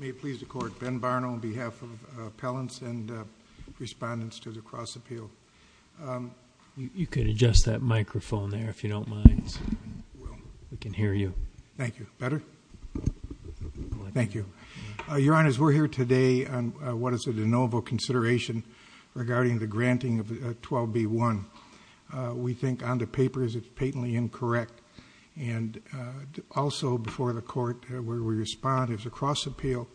May it please the Court. Ben Barno on behalf of Appellants and Respondents to the Cross-Appeal. You can adjust that microphone there if you don't mind. We can hear you. Thank you. Better? Thank you. Your Honor, we're here today on what is a de novo consideration regarding the granting of 12b-1. We think on the where we respond is a cross-appeal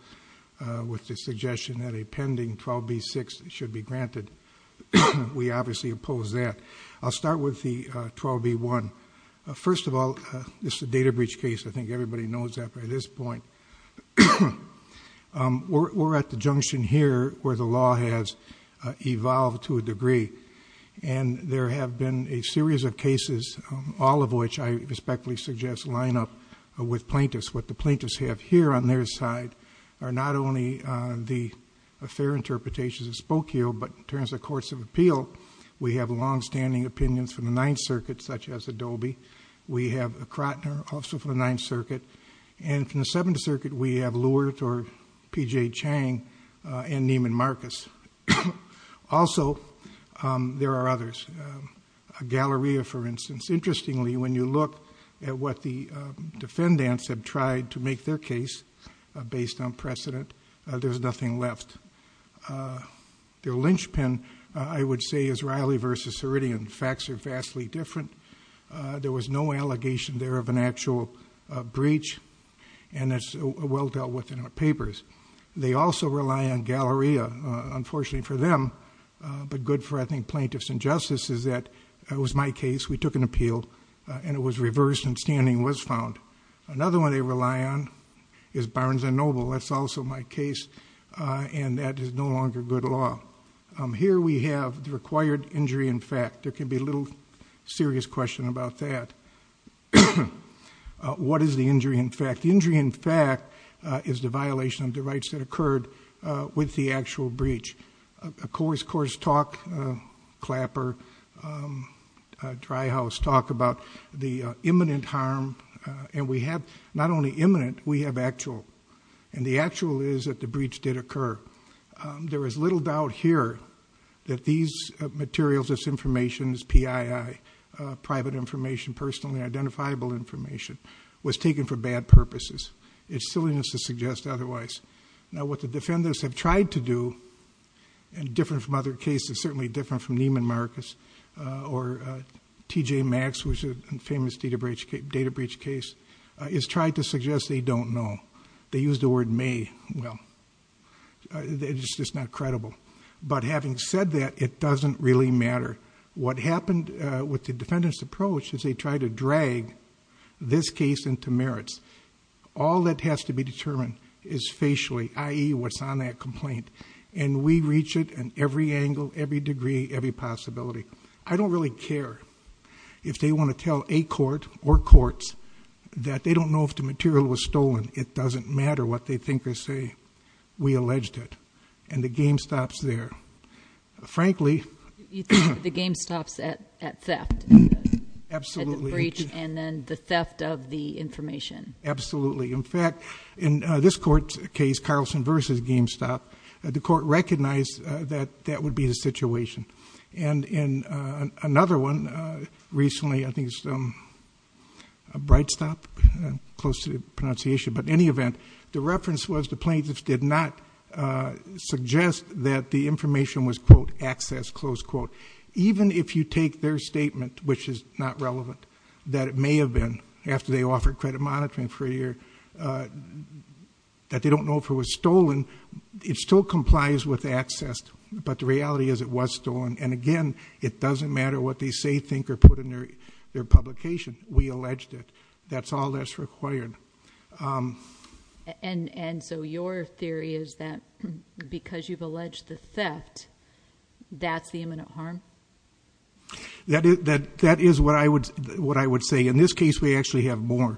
with the suggestion that a pending 12b-6 should be granted. We obviously oppose that. I'll start with the 12b-1. First of all, this is a data breach case. I think everybody knows that by this point. We're at the junction here where the law has evolved to a degree and there have been a series of cases, all of which I respectfully suggest line up with the plaintiffs have here on their side, are not only the fair interpretations of Spokio, but in terms of courts of appeal, we have long-standing opinions from the Ninth Circuit, such as Adobe. We have Krotner, also from the Ninth Circuit. And from the Seventh Circuit, we have Lewert or P.J. Chang and Neiman Marcus. Also, there are others. Galleria, for instance. Interestingly, when you look at what the defendants have tried to make their case based on precedent, there's nothing left. Their linchpin, I would say, is Riley v. Ceridian. Facts are vastly different. There was no allegation there of an actual breach, and it's well dealt with in our papers. They also rely on Galleria. Unfortunately for them, but good for, I think, plaintiffs and justices, that it was my appeal, and it was reversed, and standing was found. Another one they rely on is Barnes and Noble. That's also my case, and that is no longer good law. Here we have the required injury in fact. There can be a little serious question about that. What is the injury in fact? The injury in fact is the violation of the rights that occurred with the actual breach. A coarse, coarse talk, a clapper, dry house talk about the imminent harm, and we have not only imminent, we have actual, and the actual is that the breach did occur. There is little doubt here that these materials, this information, PII, private information, personally identifiable information, was taken for bad purposes. It's silliness to suggest otherwise. Now, what the defendants have tried to do, and different from other cases, Marcus, or T.J. Maxx, which is a famous data breach case, is try to suggest they don't know. They use the word may. Well, it's just not credible, but having said that, it doesn't really matter. What happened with the defendant's approach is they tried to drag this case into merits. All that has to be determined is facially, i.e., what's on that complaint, and we reach it in every angle, every degree, every possibility. I don't really care if they want to tell a court or courts that they don't know if the material was stolen. It doesn't matter what they think or say. We alleged it, and the game stops there. Frankly- You think the game stops at theft? Absolutely. At the breach, and then the theft of the information. Absolutely. In fact, in this court's case, Carlson v. GameStop, the court recognized that that would be the situation. In another one, recently, I think it's Brightstop, close to the pronunciation, but in any event, the reference was the plaintiffs did not suggest that the information was, quote, access, close quote. Even if you take their statement, which is not relevant, that it may have been, after they offered credit monitoring for a year, that they accessed, but the reality is it was stolen, and again, it doesn't matter what they say, think, or put in their publication. We alleged it. That's all that's required. And so your theory is that because you've alleged the theft, that's the imminent harm? That is what I would say. In this case, we actually have more.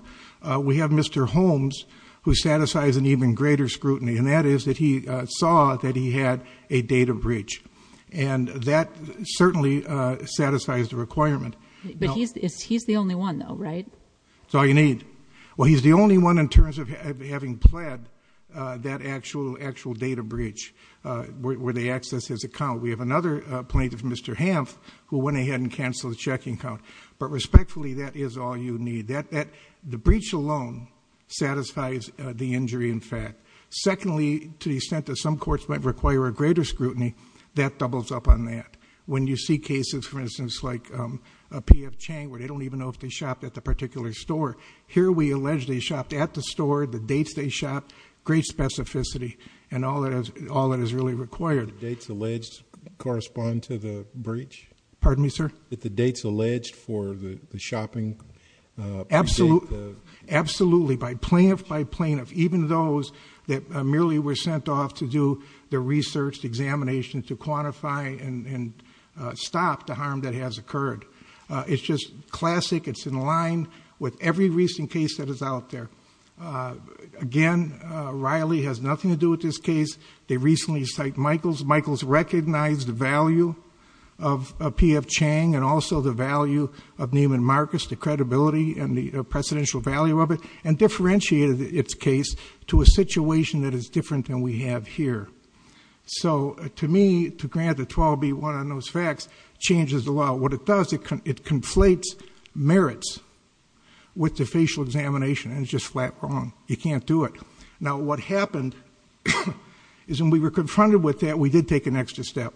We have Mr. Holmes, who satisfies an even greater scrutiny, and that is that he saw that he had a data breach, and that certainly satisfies the requirement. But he's the only one, though, right? That's all you need. Well, he's the only one in terms of having pled that actual data breach, where they accessed his account. We have another plaintiff, Mr. Hamph, who went ahead and canceled the checking account, but respectfully, that is all you need. The breach alone satisfies the injury, in fact. Secondly, to the extent that some courts might require a greater scrutiny, that doubles up on that. When you see cases, for instance, like a P.F. Chang, where they don't even know if they shopped at the particular store. Here, we allege they shopped at the store, the dates they shopped, great specificity, and all that is really required. Did the dates alleged correspond to the breach? Pardon me, sir? Did the dates alleged for the shopping predate the... Absolutely. Absolutely. By plaintiff, by plaintiff. Even those that merely were sent off to do the research, the examination, to quantify and stop the harm that has occurred. It's just classic. It's in line with every recent case that is out there. Again, Riley has nothing to do with this case. They recently cite Michaels. Michaels recognized the value of P.F. Chang and also the value of Neiman Marcus, the credibility and the precedential value of it, and differentiated its case to a situation that is different than we have here. To me, to grant the 12-B one on those facts, changes the law. What it does, it conflates merits with the facial examination, and it's just flat wrong. You can't do it. Now, what happened is when we were confronted with that, we did take an extra step,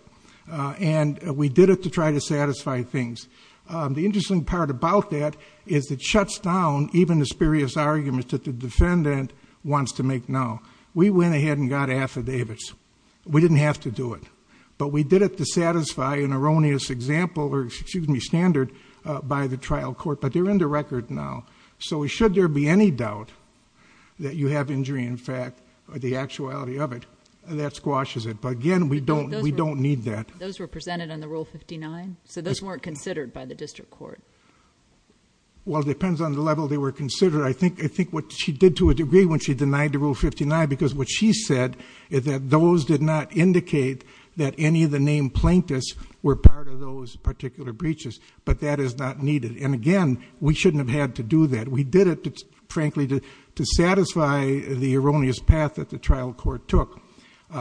and we did it to try to satisfy things. The interesting part about that is it shuts down even the spurious argument that the defendant wants to make now. We went ahead and got affidavits. We didn't have to do it, but we did it to satisfy an erroneous example or, excuse me, standard by the that you have injury, in fact, or the actuality of it, and that squashes it. But again, we don't need that. Those were presented on the Rule 59? So those weren't considered by the district court? Well, it depends on the level they were considered. I think what she did to a degree when she denied the Rule 59, because what she said is that those did not indicate that any of the named plaintiffs were part of those particular breaches, but that is not needed. And again, we shouldn't have had to do that. We did it, frankly, to satisfy the erroneous path that the trial court took.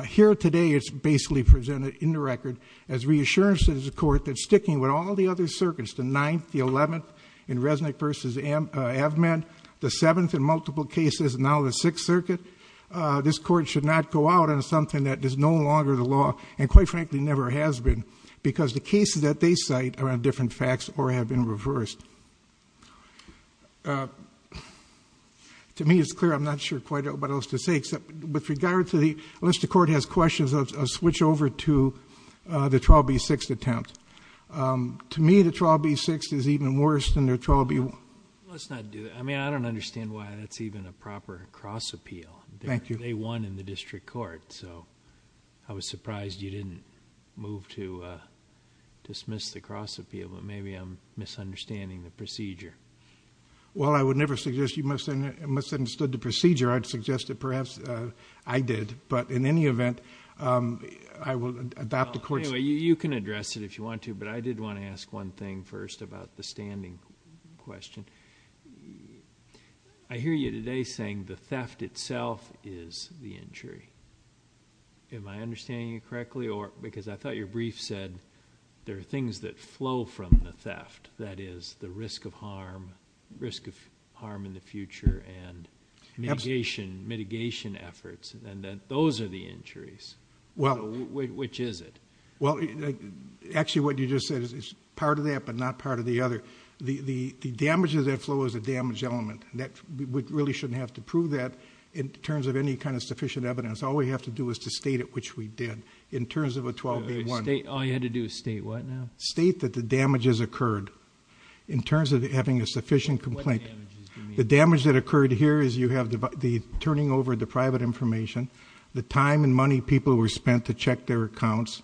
Here today, it's basically presented in the record as reassurance to the court that sticking with all the other circuits, the 9th, the 11th, in Resnick versus Avment, the 7th in multiple cases, and now the 6th circuit, this court should not go out on something that is no longer the law and, quite frankly, never has been because the cases that they cite are on different facts or have been on different facts. To me, it's clear. I'm not sure quite what else to say, except with regard to the, unless the court has questions, I'll switch over to the Trial B6 attempt. To me, the Trial B6 is even worse than the Trial B1. Let's not do that. I mean, I don't understand why that's even a proper cross appeal. Thank you. They won in the district court, so I was surprised you didn't move to dismiss the cross appeal, but maybe I'm misunderstanding the procedure. Well, I would never suggest you misunderstood the procedure. I'd suggest that perhaps I did, but in any event, I will adopt the court's... Anyway, you can address it if you want to, but I did want to ask one thing first about the standing question. I hear you today saying the theft itself is the injury. Am I understanding you correctly? Because I thought your brief said there are things that flow from the theft, that is, the risk of harm, risk of harm in the future, and mitigation efforts, and that those are the injuries. Well... Which is it? Well, actually, what you just said is part of that, but not part of the other. The damage of that flow is a damage element. That, we really shouldn't have to prove that in terms of any kind of sufficient evidence. All we have to do is to state it, which we did, in terms of a 12-8-1. All you had to do is state what now? State that the damage has occurred, in terms of having a sufficient complaint. The damage that occurred here is you have the turning over of the private information, the time and money people were spent to check their accounts,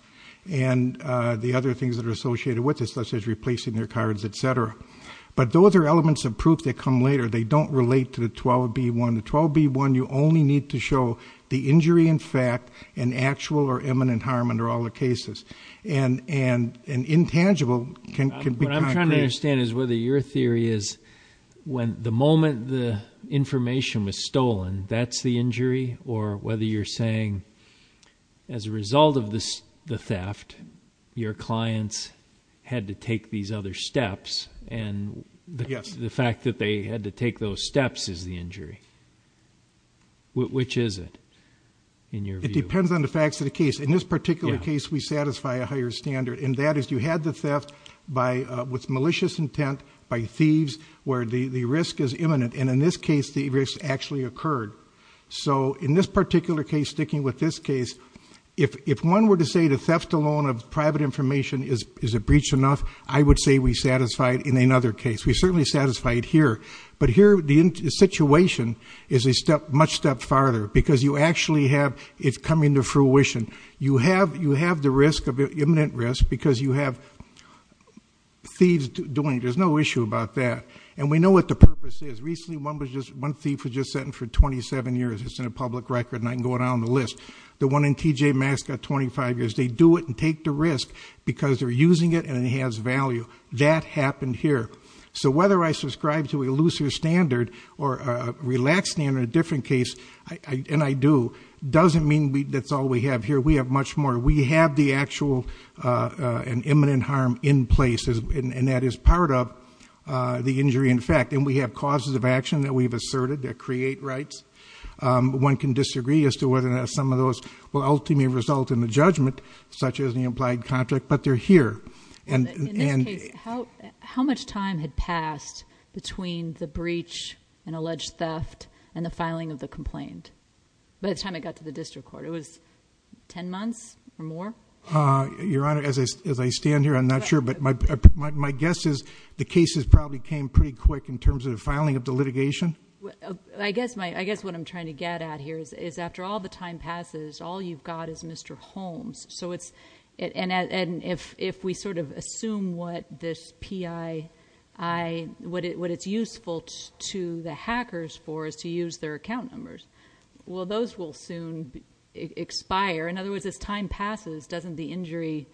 and the other things that are associated with it, such as replacing their cards, etc. But those are elements of proof that come later. They don't relate to the 12-B-1. The 12-B-1, you only need to show the injury in fact, and actual or eminent harm under all the cases. And intangible can be concrete. What I'm trying to understand is whether your theory is when the moment the information was stolen, that's the injury, or whether you're saying as a result of the theft, your clients had to take these other steps, and the fact that they had to take those steps is the injury. Which is it, in your view? It depends on the facts of the case. In this particular case, we satisfy a higher standard, and that is you had the theft with malicious intent by thieves, where the risk is imminent, and in this case, the risk actually occurred. So in this particular case, sticking with this case, if one were to say the theft alone of private information is a breach enough, I would say we satisfy it in another case, we certainly satisfy it here. But here, the situation is a much step farther, because you actually have, it's coming to fruition. You have the risk of imminent risk, because you have thieves doing it. There's no issue about that. And we know what the purpose is. Recently, one thief was just sentenced for 27 years. It's in a public record, and I can go down the list. The one in TJ Mask got 25 years. They do it and take the risk, because they're using it and it has value. That happened here. So whether I subscribe to a looser standard or a relaxed standard in a different case, and I do, doesn't mean that's all we have here. We have much more. We have the actual and imminent harm in place, and that is part of the injury in fact. And we have causes of action that we've asserted that create rights. One can disagree as to whether or not some of those will ultimately result in the judgment, such as the implied contract, but they're here. And- In this case, how much time had passed between the breach and alleged theft and the filing of the complaint? By the time it got to the district court, it was ten months or more? Your Honor, as I stand here, I'm not sure, but my guess is the cases probably came pretty quick in terms of the filing of the litigation. I guess what I'm trying to get at here is after all the time passes, all you've got is Mr. Holmes. So it's, and if we sort of assume what this PI, what it's useful to the hackers for is to use their account numbers. Well, those will soon expire. In other words, as time passes, doesn't the injury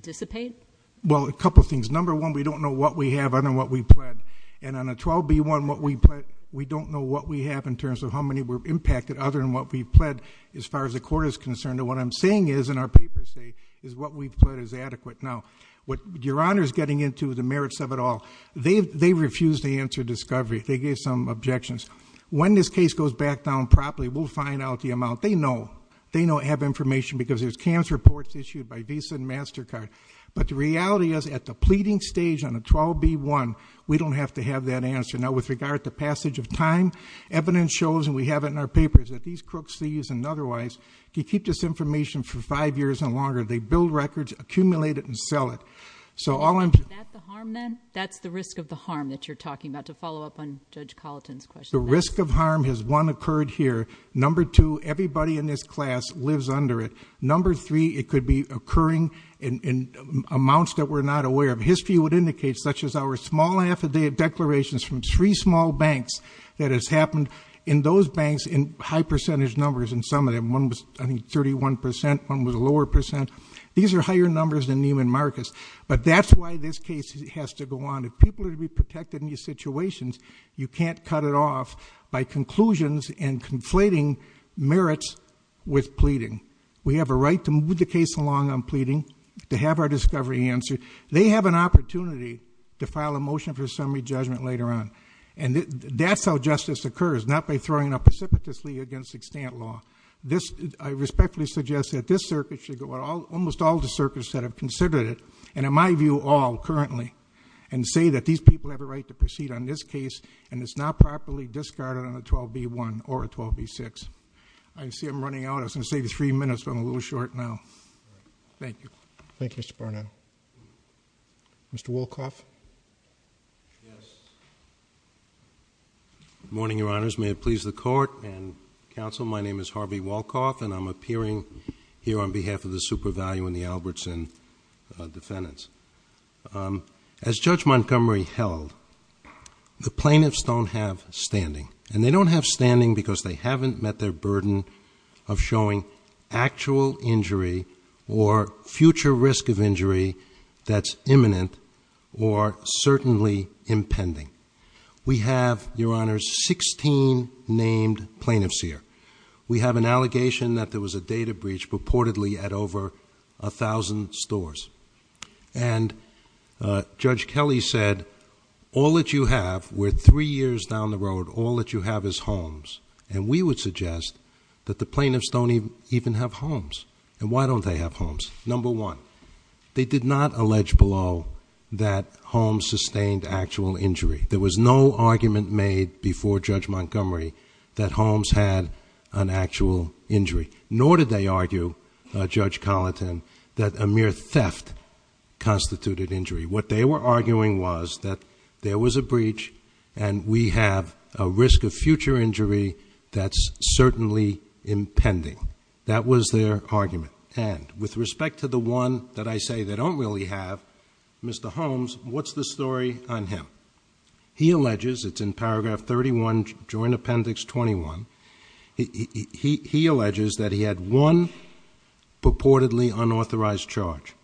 dissipate? Well, a couple things. Number one, we don't know what we have other than what we've pled. And on a 12B1, we don't know what we have in terms of how many were impacted other than what we've pled. As far as the court is concerned, what I'm saying is, and our papers say, is what we've pled is adequate. Now, what Your Honor's getting into, the merits of it all, they refuse to answer discovery. They gave some objections. When this case goes back down properly, we'll find out the amount. They know. They know, have information, because there's cancer reports issued by Visa and MasterCard. But the reality is, at the pleading stage on a 12B1, we don't have to have that answer. Now, with regard to passage of time, evidence shows, and we have it in our papers, that these crooks, these and otherwise, can keep this information for five years and longer. They build records, accumulate it, and sell it. So all I'm- Is that the harm then? That's the risk of the harm that you're talking about, to follow up on Judge Colleton's question. The risk of harm has, one, occurred here. Number two, everybody in this class lives under it. Number three, it could be occurring in amounts that we're not aware of. And history would indicate, such as our small affidavit declarations from three small banks that has happened in those banks in high percentage numbers in some of them. One was, I think, 31%, one was a lower percent. These are higher numbers than Neiman Marcus. But that's why this case has to go on. If people are to be protected in these situations, you can't cut it off by conclusions and conflating merits with pleading. We have a right to move the case along on pleading, to have our discovery answered. They have an opportunity to file a motion for summary judgment later on. And that's how justice occurs, not by throwing it out precipitously against extant law. This, I respectfully suggest that this circuit should go out, almost all the circuits that have considered it, and in my view, all currently. And say that these people have a right to proceed on this case, and it's not properly discarded on a 12B1 or a 12B6. I see I'm running out, I was going to say three minutes, but I'm a little short now. Thank you. Thank you, Mr. Barnett. Mr. Wolkoff. Yes. Morning, your honors. May it please the court and counsel. My name is Harvey Wolkoff, and I'm appearing here on behalf of the super value and the Albertson defendants. As Judge Montgomery held, the plaintiffs don't have standing. And they don't have standing because they haven't met their burden of showing actual injury or future risk of injury that's imminent or certainly impending. We have, your honors, 16 named plaintiffs here. We have an allegation that there was a data breach purportedly at over 1,000 stores. And Judge Kelly said, all that you have, we're three years down the road, all that you have is homes. And we would suggest that the plaintiffs don't even have homes. And why don't they have homes? Number one, they did not allege below that Holmes sustained actual injury. There was no argument made before Judge Montgomery that Holmes had an actual injury. Nor did they argue, Judge Colleton, that a mere theft constituted injury. What they were arguing was that there was a breach and we have a risk of future injury that's certainly impending. That was their argument. And with respect to the one that I say they don't really have, Mr. Holmes, what's the story on him? He alleges, it's in paragraph 31, joint appendix 21. He alleges that he had one purportedly unauthorized charge.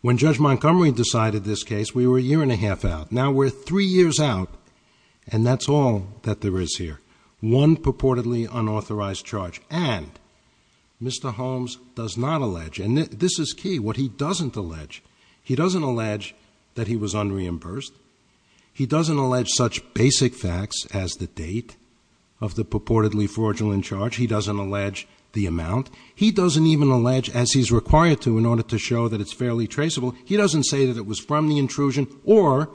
When Judge Montgomery decided this case, we were a year and a half out. Now we're three years out, and that's all that there is here. One purportedly unauthorized charge, and Mr. Holmes does not allege, and this is key. What he doesn't allege, he doesn't allege that he was unreimbursed. He doesn't allege such basic facts as the date of the purportedly fraudulent charge. He doesn't allege the amount. He doesn't even allege, as he's required to in order to show that it's fairly traceable. He doesn't say that it was from the intrusion or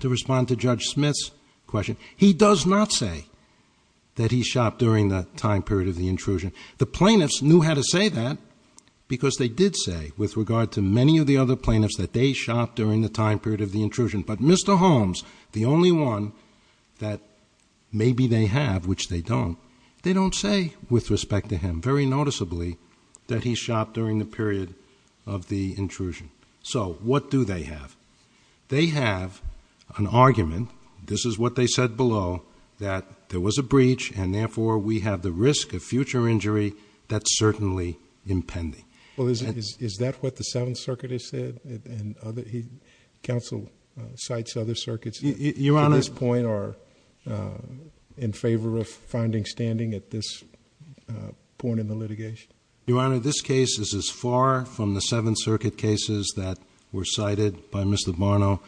to respond to Judge Smith's question. He does not say that he shopped during the time period of the intrusion. The plaintiffs knew how to say that because they did say, with regard to many of the other plaintiffs, that they shopped during the time period of the intrusion. But Mr. Holmes, the only one that maybe they have, which they don't, they don't say, with respect to him, very noticeably, that he shopped during the period of the intrusion. So what do they have? They have an argument, this is what they said below, that there was a breach, and therefore we have the risk of future injury that's certainly impending. Well, is that what the Seventh Circuit has said, and counsel cites other circuits- At this point in the litigation? Your Honor, this case is as far from the Seventh Circuit cases that were cited by Mr. Barno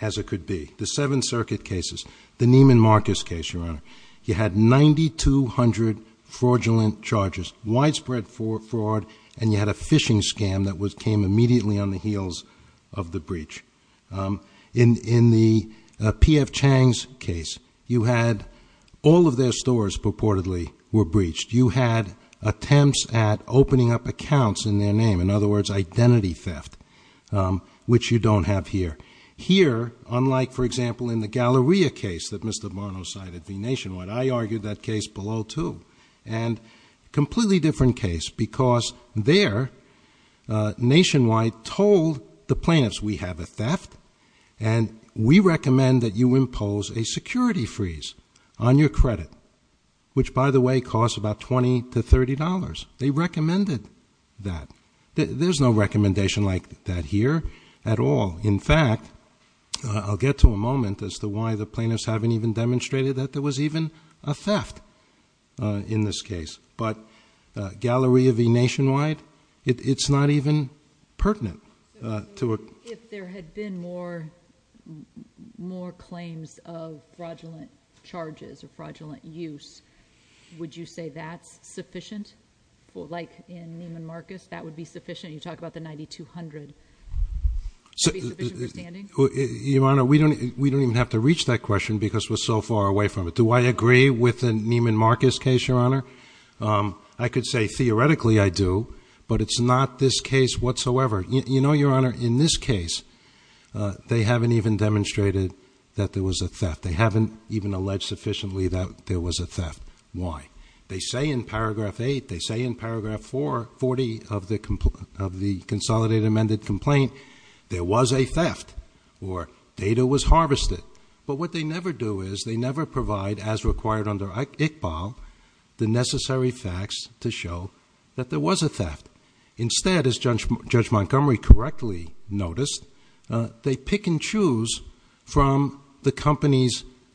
as it could be. The Seventh Circuit cases, the Neiman Marcus case, Your Honor, you had 9,200 fraudulent charges, widespread fraud, and you had a phishing scam that came immediately on the heels of the breach. In the P.F. Chang's case, you had all of their stores purportedly were breached. You had attempts at opening up accounts in their name, in other words, identity theft, which you don't have here. Here, unlike, for example, in the Galleria case that Mr. Barno cited v. Nationwide, I argued that case below too. And completely different case, because there, Nationwide told the plaintiffs, we have a theft, and we recommend that you impose a security freeze on your credit. Which, by the way, costs about $20 to $30. They recommended that. There's no recommendation like that here at all. In fact, I'll get to a moment as to why the plaintiffs haven't even demonstrated that there was even a theft in this case. But Galleria v. Nationwide, it's not even pertinent to a- If there had been more claims of fraudulent charges or fraudulent use, would you say that's sufficient? Like in Neiman Marcus, that would be sufficient? You talk about the 9200. That be sufficient for standing? Your Honor, we don't even have to reach that question because we're so far away from it. Do I agree with the Neiman Marcus case, Your Honor? I could say theoretically I do, but it's not this case whatsoever. You know, Your Honor, in this case, they haven't even demonstrated that there was a theft. They haven't even alleged sufficiently that there was a theft. Why? They say in paragraph eight, they say in paragraph four, 40 of the consolidated amended complaint, there was a theft, or data was harvested. But what they never do is, they never provide, as required under Iqbal, the necessary facts to show that there was a theft. Instead, as Judge Montgomery correctly noticed, they pick and pick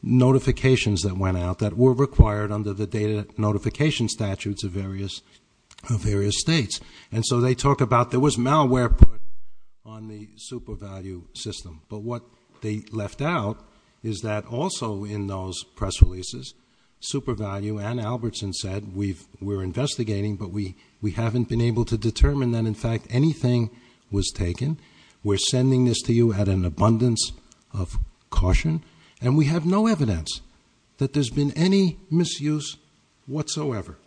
notification statutes of various states. And so they talk about, there was malware put on the SuperValue system. But what they left out is that also in those press releases, SuperValue and Albertson said, we're investigating, but we haven't been able to determine that, in fact, anything was taken. We're sending this to you at an abundance of caution. And we have no evidence that there's been any misuse whatsoever,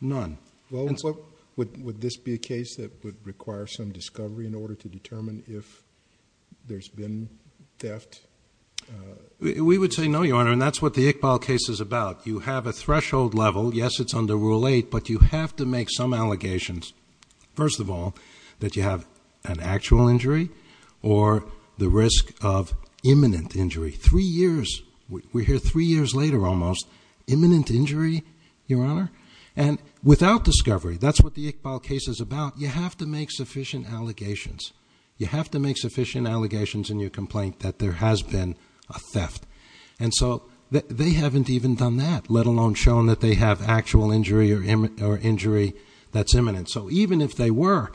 none. Well, would this be a case that would require some discovery in order to determine if there's been theft? We would say no, Your Honor, and that's what the Iqbal case is about. You have a threshold level. Yes, it's under rule eight, but you have to make some allegations. First of all, that you have an actual injury or the risk of imminent injury, three years, we're here three years later almost, imminent injury, Your Honor, and without discovery, that's what the Iqbal case is about. You have to make sufficient allegations. You have to make sufficient allegations in your complaint that there has been a theft. And so they haven't even done that, let alone shown that they have actual injury or injury that's imminent. So even if they were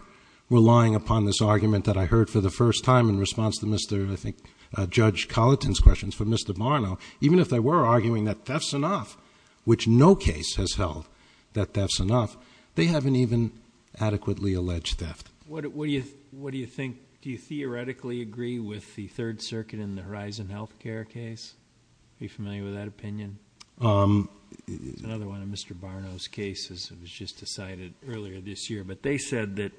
relying upon this argument that I heard for the first time in response to Mr., I think, Judge Colleton's questions for Mr. Barno, even if they were arguing that theft's enough, which no case has held that theft's enough, they haven't even adequately alleged theft. What do you think? Do you theoretically agree with the Third Circuit in the Horizon Healthcare case? Are you familiar with that opinion? It's another one of Mr. Barno's cases, it was just decided earlier this year. But they said that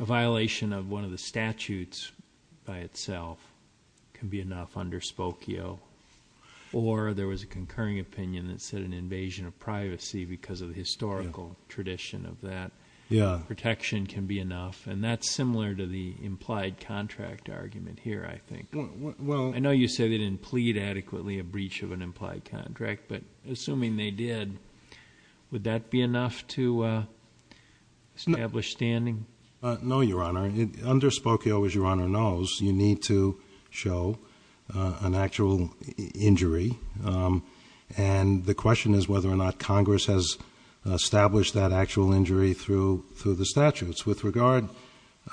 a violation of one of the statutes by itself can be enough under Spokio. Or there was a concurring opinion that said an invasion of privacy because of the historical tradition of that. Protection can be enough, and that's similar to the implied contract argument here, I think. I know you said they didn't plead adequately a breach of an implied contract, but assuming they did, would that be enough to establish standing? No, Your Honor. Under Spokio, as Your Honor knows, you need to show an actual injury. And the question is whether or not Congress has established that actual injury through the statutes. With regard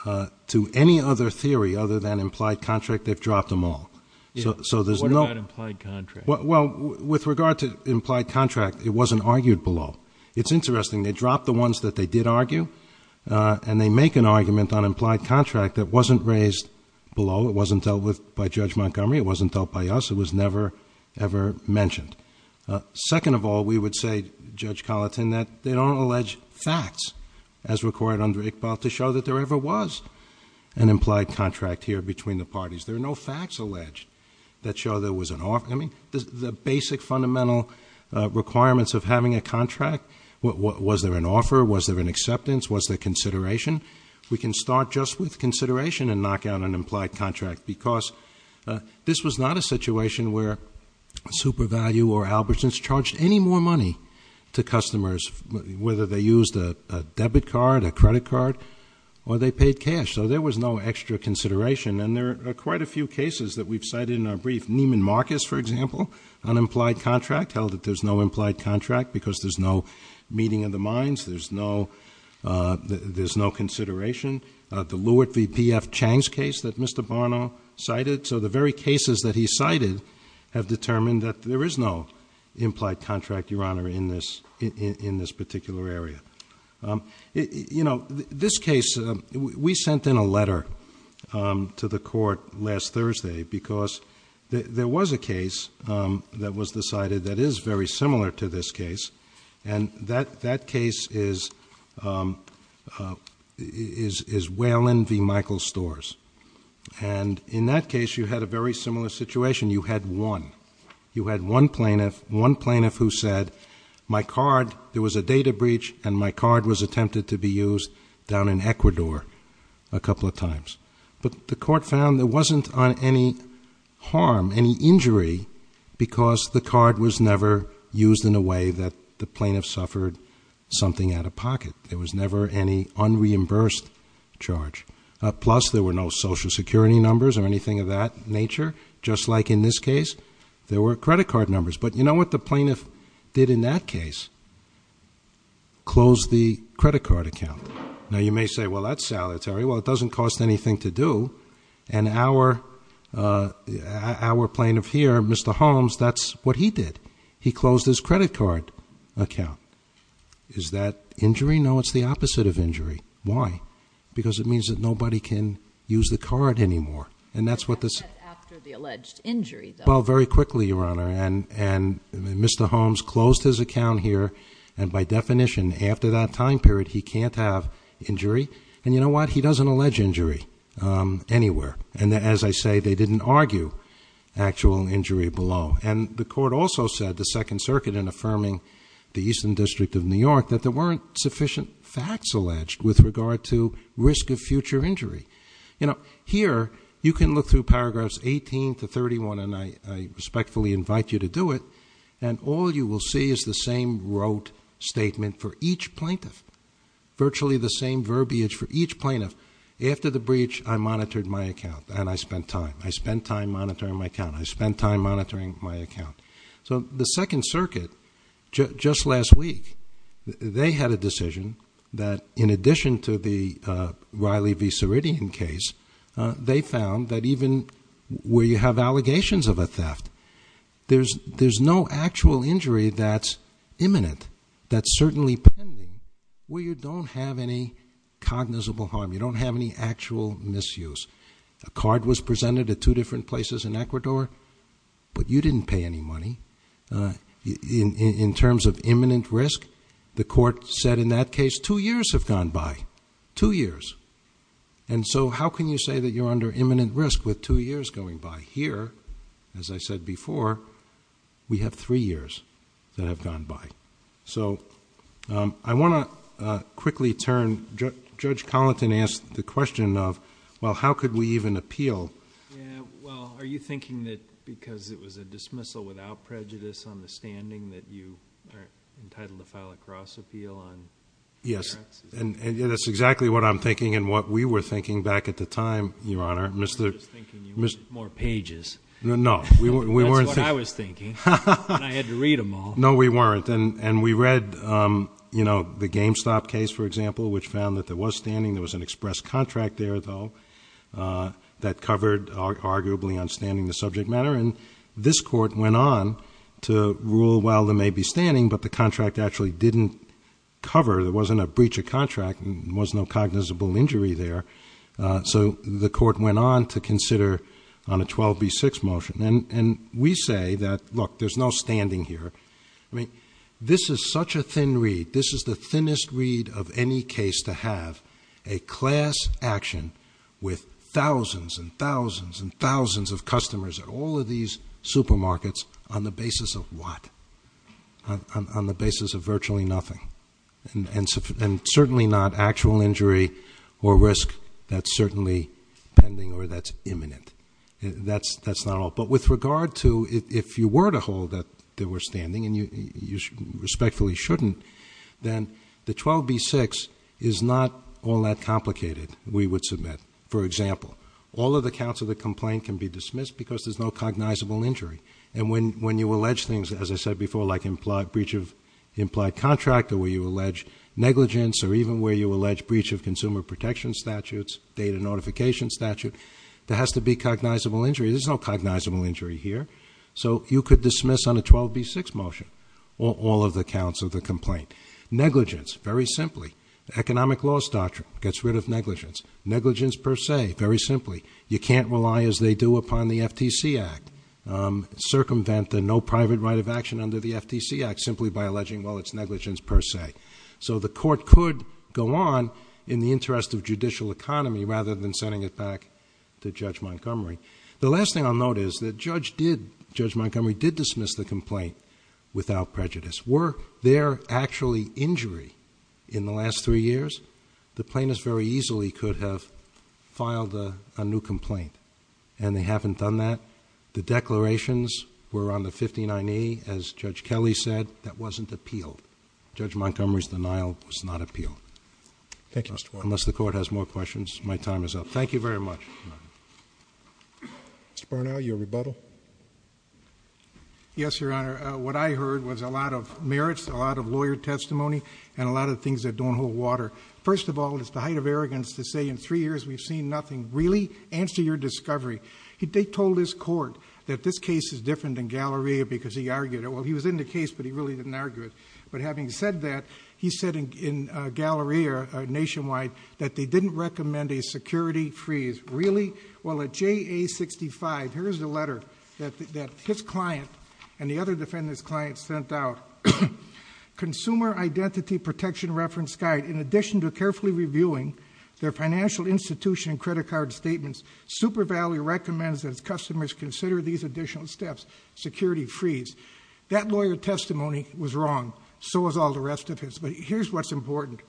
to any other theory other than implied contract, they've dropped them all. So there's no- What about implied contract? Well, with regard to implied contract, it wasn't argued below. It's interesting, they dropped the ones that they did argue, and they make an argument on implied contract that wasn't raised below. It wasn't dealt with by Judge Montgomery, it wasn't dealt by us, it was never, ever mentioned. Second of all, we would say, Judge Colleton, that they don't allege facts as required under Iqbal to show that there ever was an implied contract here between the parties. There are no facts alleged that show there was an offer. I mean, the basic fundamental requirements of having a contract, was there an offer, was there an acceptance, was there consideration? We can start just with consideration and knock out an implied contract because this was not a situation where SuperValue or Albertsons charged any more money to customers, whether they used a debit card, a credit card, or they paid cash. So there was no extra consideration. And there are quite a few cases that we've cited in our brief. Neiman Marcus, for example, on implied contract, held that there's no implied contract because there's no meeting of the minds. There's no consideration. The Lewitt v. P.F. Chang's case that Mr. Barnault cited. So the very cases that he cited have determined that there is no implied contract, Your Honor, in this particular area. This case, we sent in a letter to the court last Thursday because there was a case that was decided that is very similar to this case. And that case is Whalen v. Davis, you had a very similar situation. You had one. You had one plaintiff who said, my card, there was a data breach and my card was attempted to be used down in Ecuador a couple of times. But the court found there wasn't any harm, any injury, because the card was never used in a way that the plaintiff suffered something out of pocket. There was never any unreimbursed charge. Plus, there were no social security numbers or anything of that nature, just like in this case, there were credit card numbers. But you know what the plaintiff did in that case? Closed the credit card account. Now, you may say, well, that's salutary. Well, it doesn't cost anything to do. And our plaintiff here, Mr. Holmes, that's what he did. He closed his credit card account. Is that injury? No, it's the opposite of injury. Why? Because it means that nobody can use the card anymore. And that's what this- After the alleged injury, though. Well, very quickly, Your Honor, and Mr. Holmes closed his account here. And by definition, after that time period, he can't have injury. And you know what? He doesn't allege injury anywhere. And as I say, they didn't argue actual injury below. And the court also said, the Second Circuit in affirming the Eastern District of New York, that there weren't sufficient facts alleged with regard to risk of future injury. You know, here, you can look through paragraphs 18 to 31, and I respectfully invite you to do it. And all you will see is the same wrote statement for each plaintiff. Virtually the same verbiage for each plaintiff. After the breach, I monitored my account, and I spent time. I spent time monitoring my account. I spent time monitoring my account. So the Second Circuit, just last week, they had a decision that, in addition to the Riley v. Ceridian case, they found that even where you have allegations of a theft, there's no actual injury that's imminent, that's certainly pending, where you don't have any cognizable harm, you don't have any actual misuse. A card was presented at two different places in Ecuador, but you didn't pay any money. In terms of imminent risk, the court said in that case, two years have gone by, two years. And so how can you say that you're under imminent risk with two years going by? Here, as I said before, we have three years that have gone by. So I want to quickly turn, Judge Collington asked the question of, well, how could we even appeal? Yeah, well, are you thinking that because it was a dismissal without prejudice on the standing that you are entitled to file a cross appeal on- Yes, and that's exactly what I'm thinking and what we were thinking back at the time, Your Honor. Mr- I was thinking you wanted more pages. No, we weren't thinking- That's what I was thinking, and I had to read them all. No, we weren't, and we read the GameStop case, for example, which found that there was standing, there was an express contract there, though, that covered arguably on standing the subject matter. And this court went on to rule, well, there may be standing, but the contract actually didn't cover, there wasn't a breach of contract, and there was no cognizable injury there. So the court went on to consider on a 12B6 motion. And we say that, look, there's no standing here. I mean, this is such a thin read, this is the thinnest read of any case to have a class action with thousands, and thousands, and thousands of customers at all of these supermarkets on the basis of what? On the basis of virtually nothing. And certainly not actual injury or risk, that's certainly pending or that's imminent. That's not all. But with regard to, if you were to hold that there were standing, and you respectfully shouldn't, then the 12B6 is not all that complicated, we would submit. For example, all of the counts of the complaint can be dismissed because there's no cognizable injury. And when you allege things, as I said before, like implied breach of implied contract, or where you allege negligence, or even where you allege breach of consumer protection statutes, data notification statute. There has to be cognizable injury. There's no cognizable injury here. So you could dismiss on a 12B6 motion all of the counts of the complaint. Negligence, very simply, economic laws doctrine gets rid of negligence. Negligence per se, very simply. You can't rely as they do upon the FTC Act. Circumvent the no private right of action under the FTC Act simply by alleging, well, it's negligence per se. So the court could go on in the interest of judicial economy rather than sending it back to Judge Montgomery. The last thing I'll note is that Judge Montgomery did dismiss the complaint without prejudice. Were there actually injury in the last three years, the plaintiffs very easily could have filed a new complaint, and they haven't done that. The declarations were on the 59E, as Judge Kelly said, that wasn't appealed. Judge Montgomery's denial was not appealed. Thank you, Mr. Warren. Unless the court has more questions, my time is up. Thank you very much. Mr. Barnell, your rebuttal. Yes, Your Honor. What I heard was a lot of merits, a lot of lawyer testimony, and a lot of things that don't hold water. First of all, it's the height of arrogance to say in three years we've seen nothing. Really? Answer your discovery. They told this court that this case is different than Galleria because he argued it. Well, he was in the case, but he really didn't argue it. But having said that, he said in Galleria nationwide that they didn't recommend a security freeze. Really? Well, at JA 65, here's the letter that his client and the other defendant's client sent out. Consumer Identity Protection Reference Guide, in addition to carefully reviewing their financial institution credit card statements, Super Valley recommends that its customers consider these additional steps, security freeze. That lawyer testimony was wrong, so was all the rest of his. But here's what's important.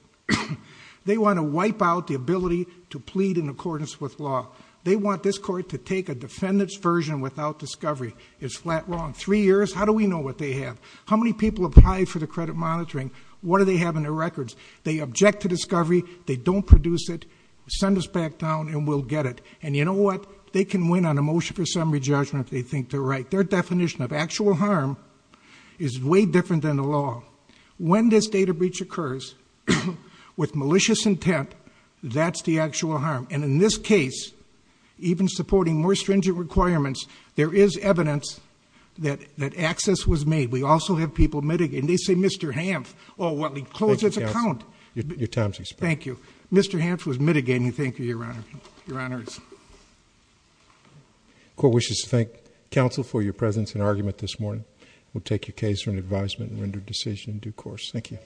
They want to wipe out the ability to plead in accordance with law. They want this court to take a defendant's version without discovery. It's flat wrong. Three years, how do we know what they have? How many people apply for the credit monitoring? What do they have in their records? They object to discovery, they don't produce it, send us back down and we'll get it. And you know what, they can win on a motion for summary judgment if they think they're right. Their definition of actual harm is way different than the law. When this data breach occurs with malicious intent, that's the actual harm. And in this case, even supporting more stringent requirements, there is evidence that access was made. We also have people mitigating. They say, Mr. Hanf, well, he closed his account. Your time's expired. Thank you. Mr. Hanf was mitigating. We thank you, Your Honor. Your Honors. Court wishes to thank counsel for your presence and argument this morning. We'll take your case for an advisement and render decision in due course. Thank you.